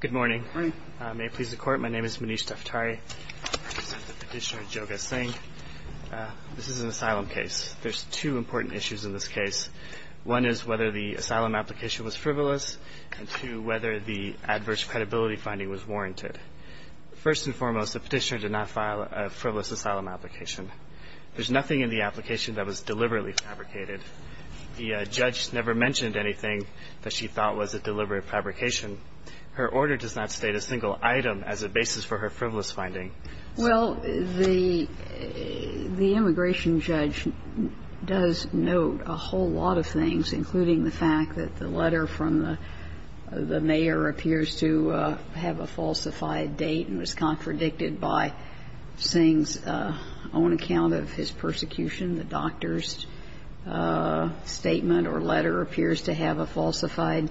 Good morning. May it please the court, my name is Manish Daftari. I represent the petitioner Joga Singh. This is an asylum case. There's two important issues in this case. One is whether the asylum application was frivolous, and two, whether the adverse credibility finding was warranted. First and foremost, the petitioner did not file a frivolous asylum application. There's nothing in the application that was deliberately fabricated. The judge never mentioned anything that she thought was a deliberate fabrication. Her order does not state a single item as a basis for her frivolous finding. Well, the immigration judge does note a whole lot of things, including the fact that the letter from the mayor appears to have a falsified date and was contradicted by Singh's own account of his persecution. The doctor's statement or letter appears to have a falsified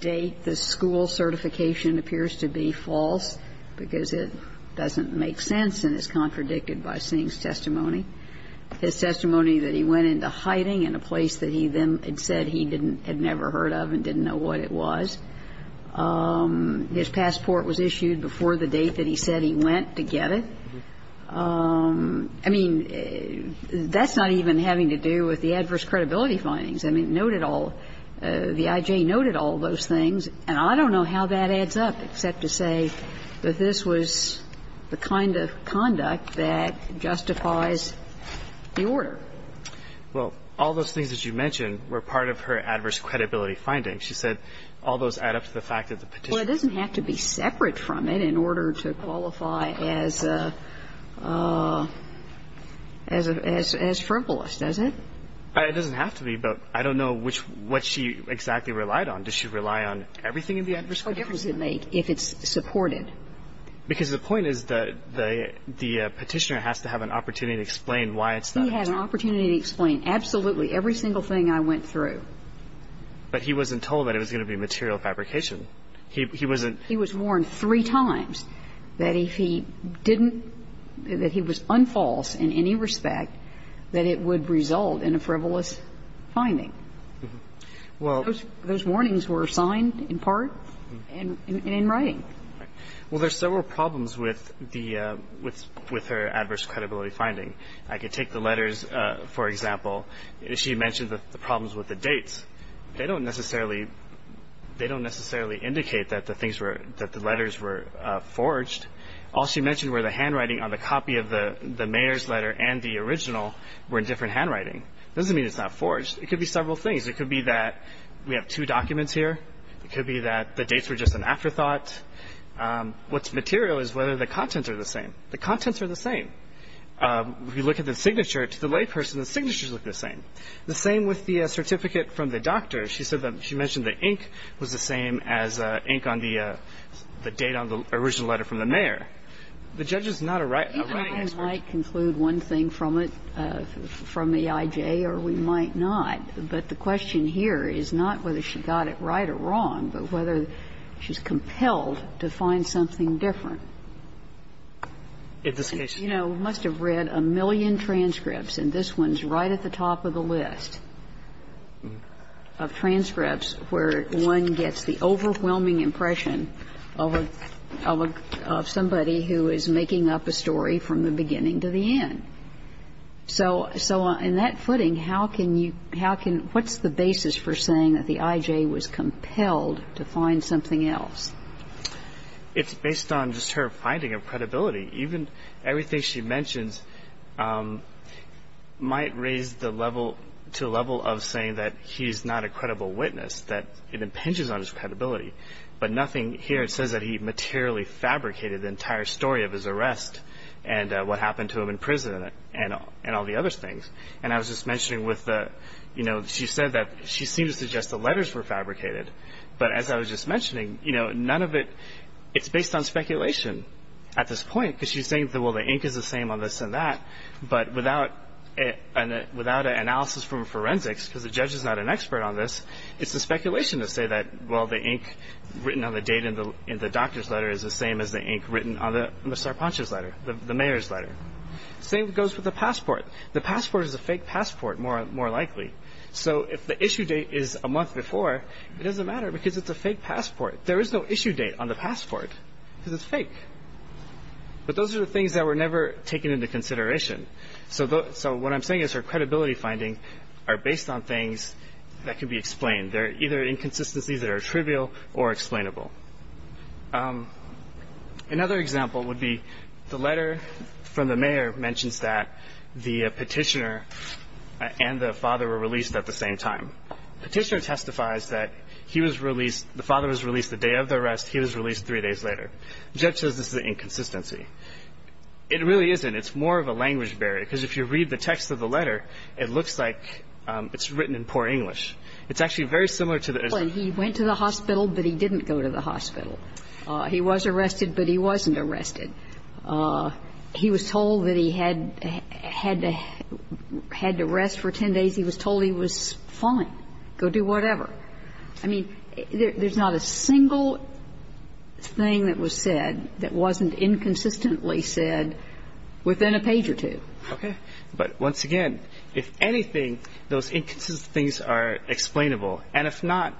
date. The school certification appears to be false because it doesn't make sense and is contradicted by Singh's testimony. His testimony that he went into hiding in a place that he then had said he didn't had never heard of and didn't know what it was. His passport was issued before the date that he said he went to get it. I mean, that's not even having to do with the adverse credibility findings. I mean, it noted all the I.J. noted all those things, and I don't know how that adds up, except to say that this was the kind of conduct that justifies the order. Well, all those things that you mentioned were part of her adverse credibility findings. She said all those add up to the fact that the petitioner. Well, it doesn't have to be separate from it in order to qualify as frivolous, does it? It doesn't have to be, but I don't know what she exactly relied on. Does she rely on everything in the adverse credibility? What difference does it make if it's supported? Because the point is that the petitioner has to have an opportunity to explain why it's not. He had an opportunity to explain absolutely every single thing I went through. But he wasn't told that it was going to be material fabrication. He wasn't. He was warned three times that if he didn't, that he was unfalse in any respect, that it would result in a frivolous finding. Well. Those warnings were signed in part and in writing. Well, there are several problems with the – with her adverse credibility finding. I could take the letters, for example. She mentioned the problems with the dates. They don't necessarily – they don't necessarily indicate that the things were – that the letters were forged. All she mentioned were the handwriting on the copy of the mayor's letter and the original were in different handwriting. It doesn't mean it's not forged. It could be several things. It could be that we have two documents here. It could be that the dates were just an afterthought. What's material is whether the contents are the same. The contents are the same. If you look at the signature, to the layperson, the signatures look the same. The same with the certificate from the doctor. She said that she mentioned the ink was the same as ink on the date on the original letter from the mayor. The judge is not a writing expert. Even if we might conclude one thing from it, from the IJ, or we might not, but the question here is not whether she got it right or wrong, but whether she's compelled to find something different. You know, we must have read a million transcripts, and this one's right at the top of the list of transcripts where one gets the overwhelming impression of a – of somebody who is making up a story from the beginning to the end. So in that footing, how can you – how can – what's the basis for saying that the IJ was compelled to find something else? It's based on just her finding of credibility. Even everything she mentions might raise the level – to the level of saying that he's not a credible witness, that it impinges on his credibility. But nothing here says that he materially fabricated the entire story of his arrest and what happened to him in prison and all the other things. And I was just mentioning with the – you know, she said that – she seemed to suggest the letters were fabricated. But as I was just mentioning, you know, none of it – it's based on speculation at this point, because she's saying, well, the ink is the same on this and that, but without an analysis from forensics, because the judge is not an expert on this, it's a speculation to say that, well, the ink written on the date in the doctor's letter is the same as the ink written on the Sarpanch's letter, the mayor's letter. Same goes for the passport. The passport is a fake passport, more likely. So if the issue date is a month before, it doesn't matter because it's a fake passport. There is no issue date on the passport because it's fake. But those are the things that were never taken into consideration. So what I'm saying is her credibility findings are based on things that can be explained. They're either inconsistencies that are trivial or explainable. Another example would be the letter from the mayor mentions that the petitioner and the father were released at the same time. Petitioner testifies that he was released – the father was released the day of the arrest. He was released three days later. The judge says this is an inconsistency. It really isn't. It's more of a language barrier, because if you read the text of the letter, it looks like it's written in poor English. It's actually very similar to the – He went to the hospital, but he didn't go to the hospital. He was arrested, but he wasn't arrested. He was told that he had to rest for 10 days. He was told he was fine. Go do whatever. I mean, there's not a single thing that was said that wasn't inconsistently said within a page or two. Okay. But once again, if anything, those inconsistencies are explainable. And if not,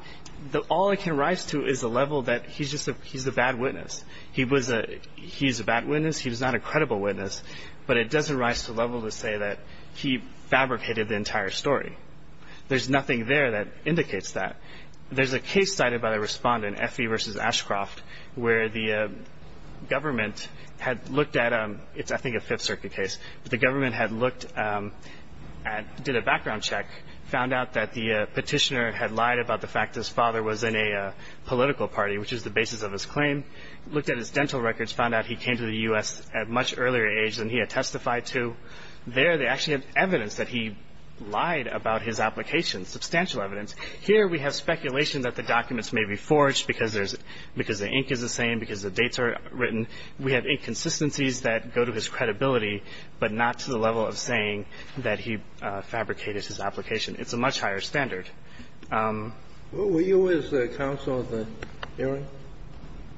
all it can rise to is the level that he's just a bad witness. He's a bad witness. He's not a credible witness. But it doesn't rise to the level to say that he fabricated the entire story. There's nothing there that indicates that. There's a case cited by the respondent, Effie v. Ashcroft, where the government had looked at a – it's, I think, a Fifth Circuit case. The government had looked at – did a background check, found out that the petitioner had lied about the fact his father was in a political party, which is the basis of his claim, looked at his dental records, found out he came to the U.S. at a much earlier age than he had testified to. There they actually have evidence that he lied about his application, substantial evidence. Here we have speculation that the documents may be forged because there's – because the ink is the same, because the dates are written. We have inconsistencies that go to his credibility, but not to the level of saying that he fabricated his application. It's a much higher standard. Were you with the counsel at the hearing?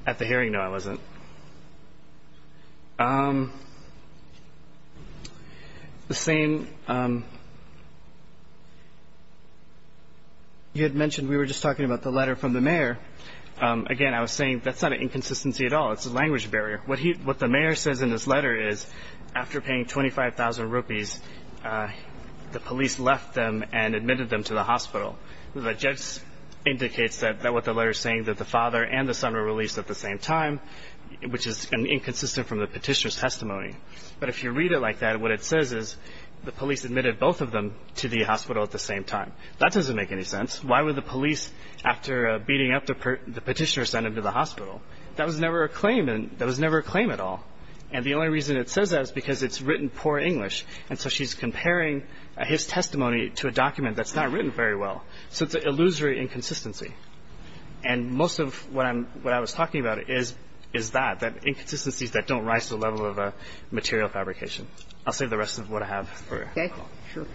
At the hearing, no, I wasn't. You had mentioned we were just talking about the letter from the mayor. Again, I was saying that's not an inconsistency at all. It's a language barrier. What the mayor says in this letter is, after paying 25,000 rupees, the police left them and admitted them to the hospital. That just indicates that what the letter is saying, that the father and the son were released at the same time, which is inconsistent from the petitioner's testimony. But if you read it like that, what it says is, the police admitted both of them to the hospital at the same time. That doesn't make any sense. Why would the police, after beating up the petitioner, send them to the hospital? That was never a claim. That was never a claim at all. And the only reason it says that is because it's written poor English. And so she's comparing his testimony to a document that's not written very well. So it's an illusory inconsistency. And most of what I was talking about is that, that inconsistencies that don't rise to the level of a material fabrication. I'll save the rest of what I have for the call. Okay, sure.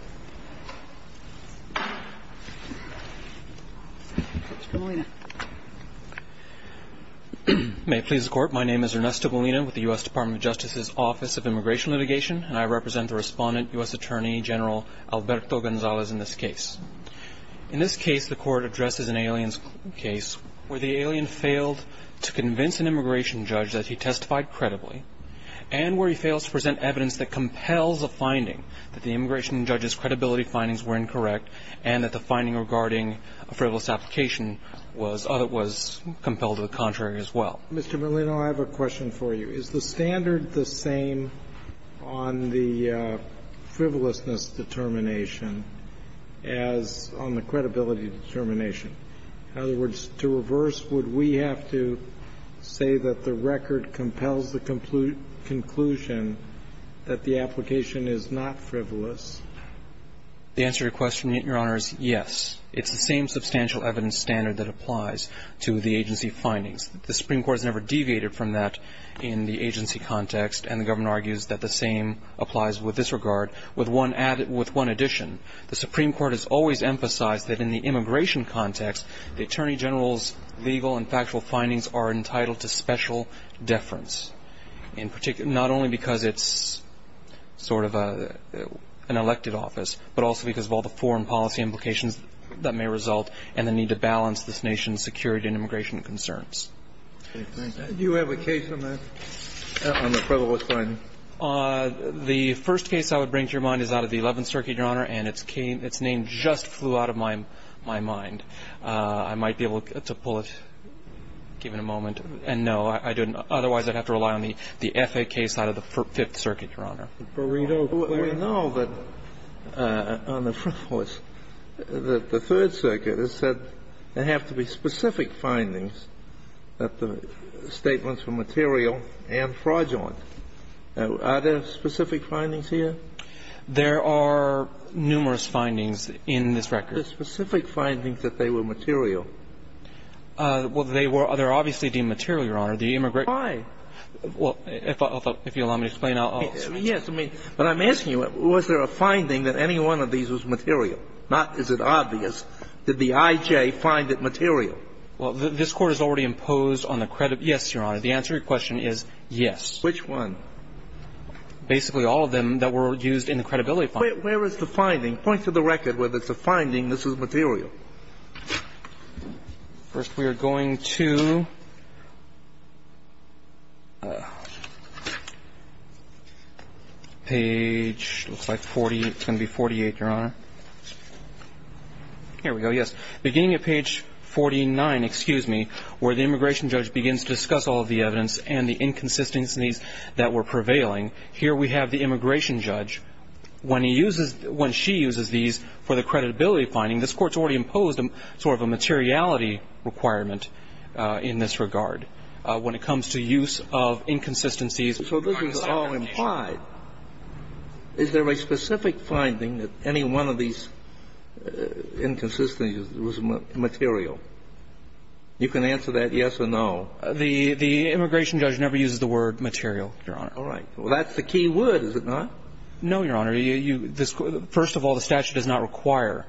May it please the Court, my name is Ernesto Molina with the U.S. Department of Justice's Office of Immigration Litigation, and I represent the Respondent, U.S. Attorney General Alberto Gonzalez in this case. In this case, the Court addresses an alien's case where the alien failed to convince an immigration judge that he testified credibly and where he fails to present evidence that compels a finding that the immigration judge's credibility findings were incorrect and that the finding regarding a frivolous application was compelled to the contrary as well. Mr. Molina, I have a question for you. Is the standard the same on the frivolousness determination as on the credibility determination? In other words, to reverse, would we have to say that the record compels the conclusion that the application is not frivolous? The answer to your question, Your Honors, yes. It's the same substantial evidence standard that applies to the agency findings. The Supreme Court has never deviated from that in the agency context, and the government argues that the same applies with this regard with one addition. The Supreme Court has always emphasized that in the immigration context, the Attorney General's legal and factual findings are entitled to special deference, not only because it's sort of an elected office, but also because of all the foreign policy implications that may result in the need to balance this nation's security and immigration concerns. Do you have a case on that, on the frivolous finding? The first case I would bring to your mind is out of the Eleventh Circuit, Your Honor, and its name just flew out of my mind. I might be able to pull it, give it a moment. And no, I didn't. Otherwise, I'd have to rely on the FA case out of the Fifth Circuit, Your Honor. We know that on the frivolous, the Third Circuit has said there have to be specific findings that the statements were material and fraudulent. Are there specific findings here? There are numerous findings in this record. There are specific findings that they were material. Well, they were obviously deemed material, Your Honor. Why? Well, if you'll allow me to explain, I'll explain. Yes. But I'm asking you, was there a finding that any one of these was material? Not is it obvious. Did the I.J. find it material? Well, this Court has already imposed on the credit. Yes, Your Honor. The answer to your question is yes. Which one? Basically all of them that were used in the credibility finding. Where is the finding? Point to the record where there's a finding this is material. First we are going to page, looks like 40, it's going to be 48, Your Honor. Here we go, yes. Beginning at page 49, excuse me, where the immigration judge begins to discuss all of the evidence and the inconsistencies that were prevailing. Here we have the immigration judge. When he uses, when she uses these for the creditability finding, this Court has already imposed sort of a materiality requirement in this regard when it comes to use of inconsistencies. So this is all implied. Is there a specific finding that any one of these inconsistencies was material? You can answer that yes or no. The immigration judge never uses the word material, Your Honor. All right. Well, that's the key word, is it not? No, Your Honor. First of all, the statute does not require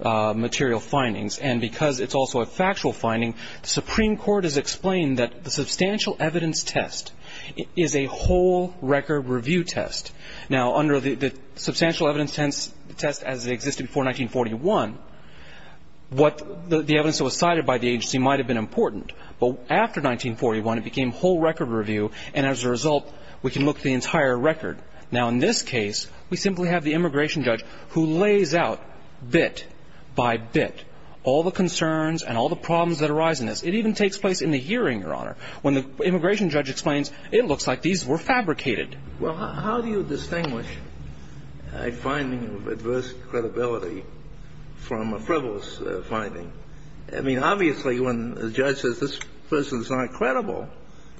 material findings. And because it's also a factual finding, the Supreme Court has explained that the substantial evidence test is a whole record review test. Now, under the substantial evidence test as it existed before 1941, the evidence that was cited by the agency might have been important. But after 1941, it became whole record review. And as a result, we can look at the entire record. Now, in this case, we simply have the immigration judge who lays out bit by bit all the concerns and all the problems that arise in this. It even takes place in the hearing, Your Honor, when the immigration judge explains it looks like these were fabricated. Well, how do you distinguish a finding of adverse credibility from a frivolous finding? I mean, obviously, when the judge says this person's not credible,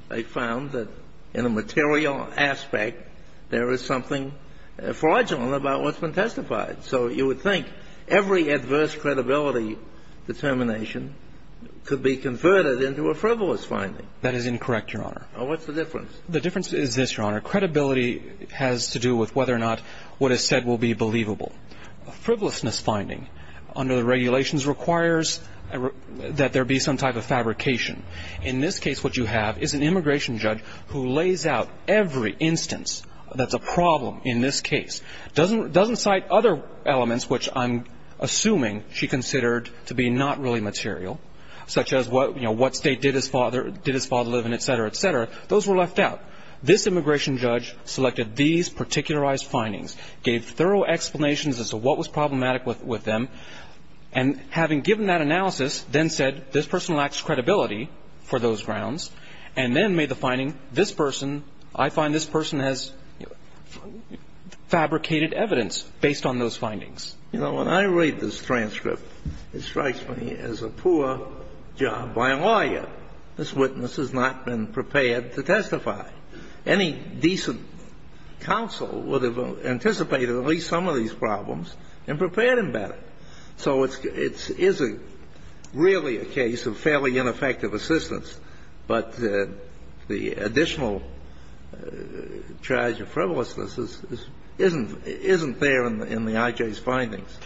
they found that in a material aspect, there is something fraudulent about what's been testified. So you would think every adverse credibility determination could be converted into a frivolous finding. That is incorrect, Your Honor. Well, what's the difference? The difference is this, Your Honor. Credibility has to do with whether or not what is said will be believable. A frivolousness finding under the regulations requires that there be some type of fabrication. In this case, what you have is an immigration judge who lays out every instance that's a problem in this case, doesn't cite other elements which I'm assuming she considered to be not really material, such as, you know, what state did his father live in, et cetera, et cetera. Those were left out. This immigration judge selected these particularized findings, gave thorough explanations as to what was problematic with them, and having given that analysis, then said this person lacks credibility for those grounds, and then made the finding, this person, I find this person has fabricated evidence based on those findings. You know, when I read this transcript, it strikes me as a poor job by a lawyer. This witness has not been prepared to testify. Any decent counsel would have anticipated at least some of these problems and prepared him better. So it's really a case of fairly ineffective assistance. But the additional charge of frivolousness isn't there in the IJ's findings.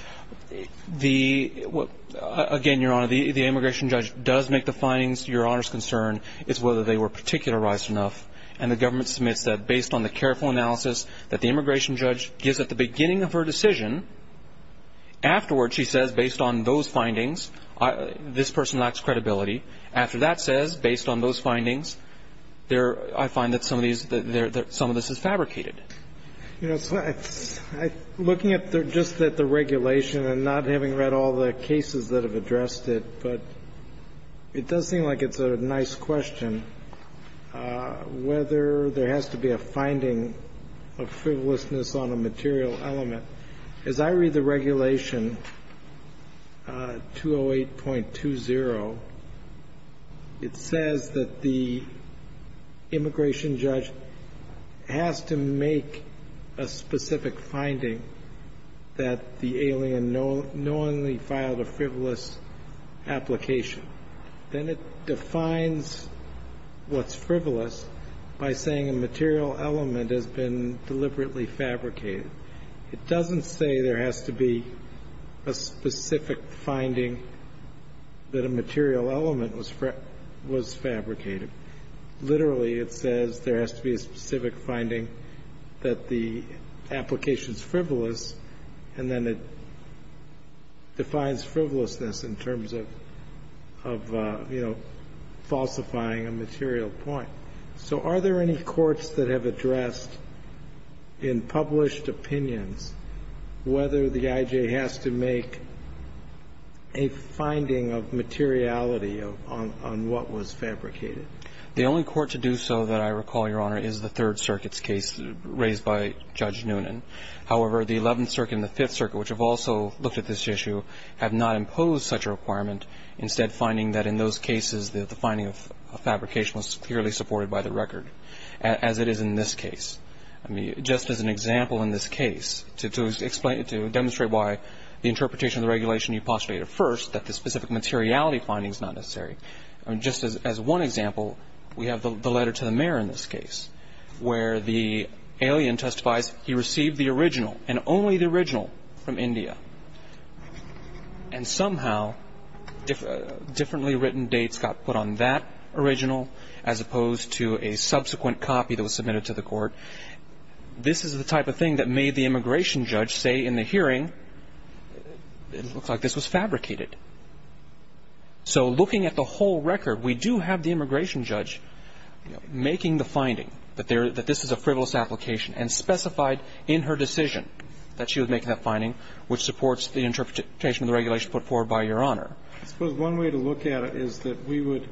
The – again, Your Honor, the immigration judge does make the findings. Your Honor's concern is whether they were particularized enough. And the government submits that based on the careful analysis that the immigration judge gives at the beginning of her decision, afterwards she says, based on those findings, this person lacks credibility. After that says, based on those findings, there – I find that some of these – that some of this is fabricated. You know, so I – looking at just the regulation and not having read all the cases that have addressed it, but it does seem like it's a nice question whether there has to be a finding of frivolousness on a material element. As I read the regulation 208.20, it says that the immigration judge has to make a specific finding that the alien knowingly filed a frivolous application. Then it defines what's frivolous by saying a material element has been deliberately fabricated. It doesn't say there has to be a specific finding that a material element was fabricated. Literally, it says there has to be a specific finding that the application is frivolous. And then it defines frivolousness in terms of, you know, falsifying a material point. So are there any courts that have addressed in published opinions whether the I.J. has to make a finding of materiality on what was fabricated? The only court to do so that I recall, Your Honor, is the Third Circuit's case raised by Judge Noonan. However, the Eleventh Circuit and the Fifth Circuit, which have also looked at this issue, have not imposed such a requirement, instead finding that in those cases the finding of fabrication was clearly supported by the record, as it is in this case. I mean, just as an example in this case, to explain – to demonstrate why the interpretation of the regulation you postulated first, that the specific materiality finding is not necessary. I mean, just as one example, we have the letter to the mayor in this case, where the alien testifies he received the original, and only the original, from India. And somehow differently written dates got put on that original, as opposed to a subsequent copy that was submitted to the court. But this is the type of thing that made the immigration judge say in the hearing, it looks like this was fabricated. So looking at the whole record, we do have the immigration judge making the finding that this is a frivolous application, and specified in her decision that she would make that finding, which supports the interpretation of the regulation put forward by Your Honor. I suppose one way to look at it is that we would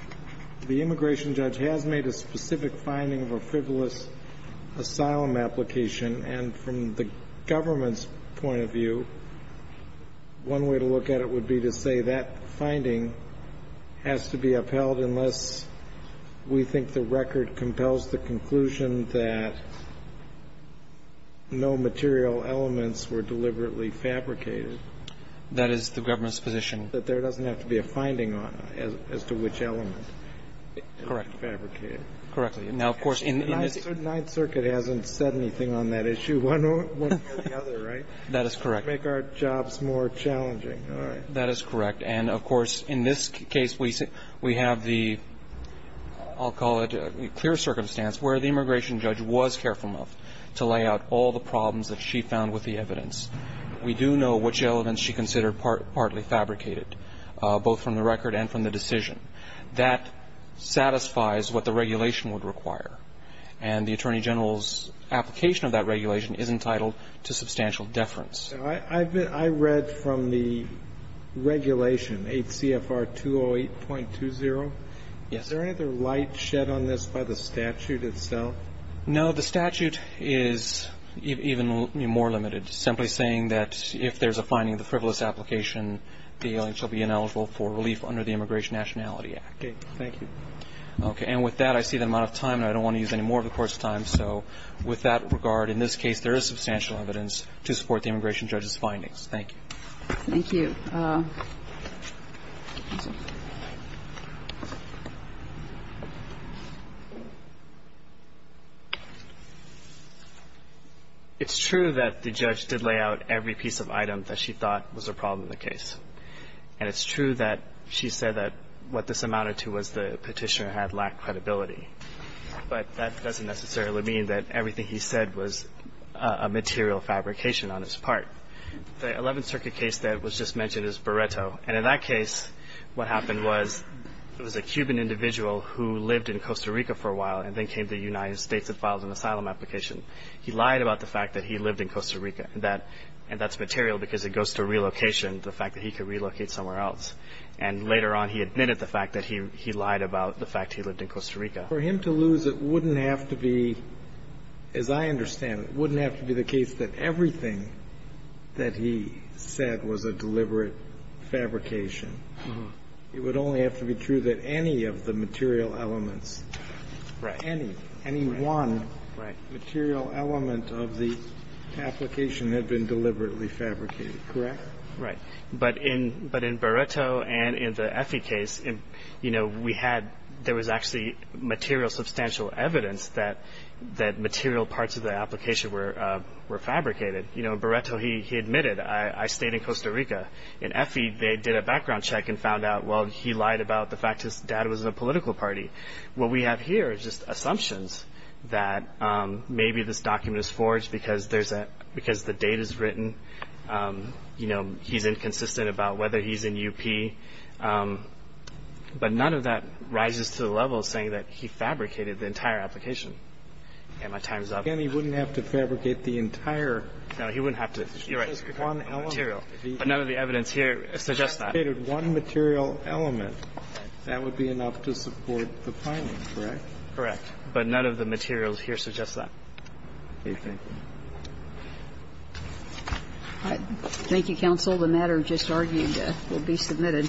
– the immigration judge has made a specific finding of a frivolous asylum application, and from the government's point of view, one way to look at it would be to say that finding has to be upheld unless we think the record compels the conclusion that no material elements were deliberately fabricated. That is the government's position. That there doesn't have to be a finding on it as to which element. Correct. judge found was deliberately fabricated? Correctly. Now, of course, in this – The Ninth Circuit hasn't said anything on that issue one way or the other, right? That is correct. It would make our jobs more challenging. All right. That is correct. And, of course, in this case, we have the – I'll call it clear circumstance where the immigration judge was careful enough to lay out all the problems that she found with the evidence. We do know which elements she considered partly fabricated, both from the record and from the decision. That satisfies what the regulation would require, and the Attorney General's application of that regulation is entitled to substantial deference. I read from the regulation, 8 CFR 208.20. Yes. Is there any other light shed on this by the statute itself? No. The statute is even more limited, simply saying that if there's a finding of the frivolous application, the ailing shall be ineligible for relief under the Immigration Nationality Act. Okay. Thank you. Okay. And with that, I see that I'm out of time, and I don't want to use any more of the Court's time. So with that regard, in this case, there is substantial evidence to support the immigration judge's findings. Thank you. Thank you. It's true that the judge did lay out every piece of item that she thought was a problem in the case. And it's true that she said that what this amounted to was the Petitioner had lacked credibility. But that doesn't necessarily mean that everything he said was a material fabrication on his part. The Eleventh Circuit case that was just mentioned is Beretto. And in that case, what happened was it was a Cuban individual who lived in Costa Rica for a while, and then came to the United States and filed an asylum application. He lied about the fact that he lived in Costa Rica, and that's material because it goes to relocation, the fact that he could relocate somewhere else. And later on, he admitted the fact that he lied about the fact he lived in Costa Rica. For him to lose, it wouldn't have to be, as I understand, it wouldn't have to be the fabrication. It would only have to be true that any of the material elements, any, any one material element of the application had been deliberately fabricated, correct? Right. But in Beretto and in the Effie case, you know, we had, there was actually material substantial evidence that material parts of the application were fabricated. You know, in Beretto, he admitted, I stayed in Costa Rica. In Effie, they did a background check and found out, well, he lied about the fact his dad was in a political party. What we have here is just assumptions that maybe this document is forged because there's a, because the date is written. You know, he's inconsistent about whether he's in UP. But none of that rises to the level of saying that he fabricated the entire application. My time is up. Again, he wouldn't have to fabricate the entire. No, he wouldn't have to. You're right. But none of the evidence here suggests that. If he fabricated one material element, that would be enough to support the filing, correct? Correct. But none of the material here suggests that. Thank you. Thank you, counsel. The matter just argued will be submitted.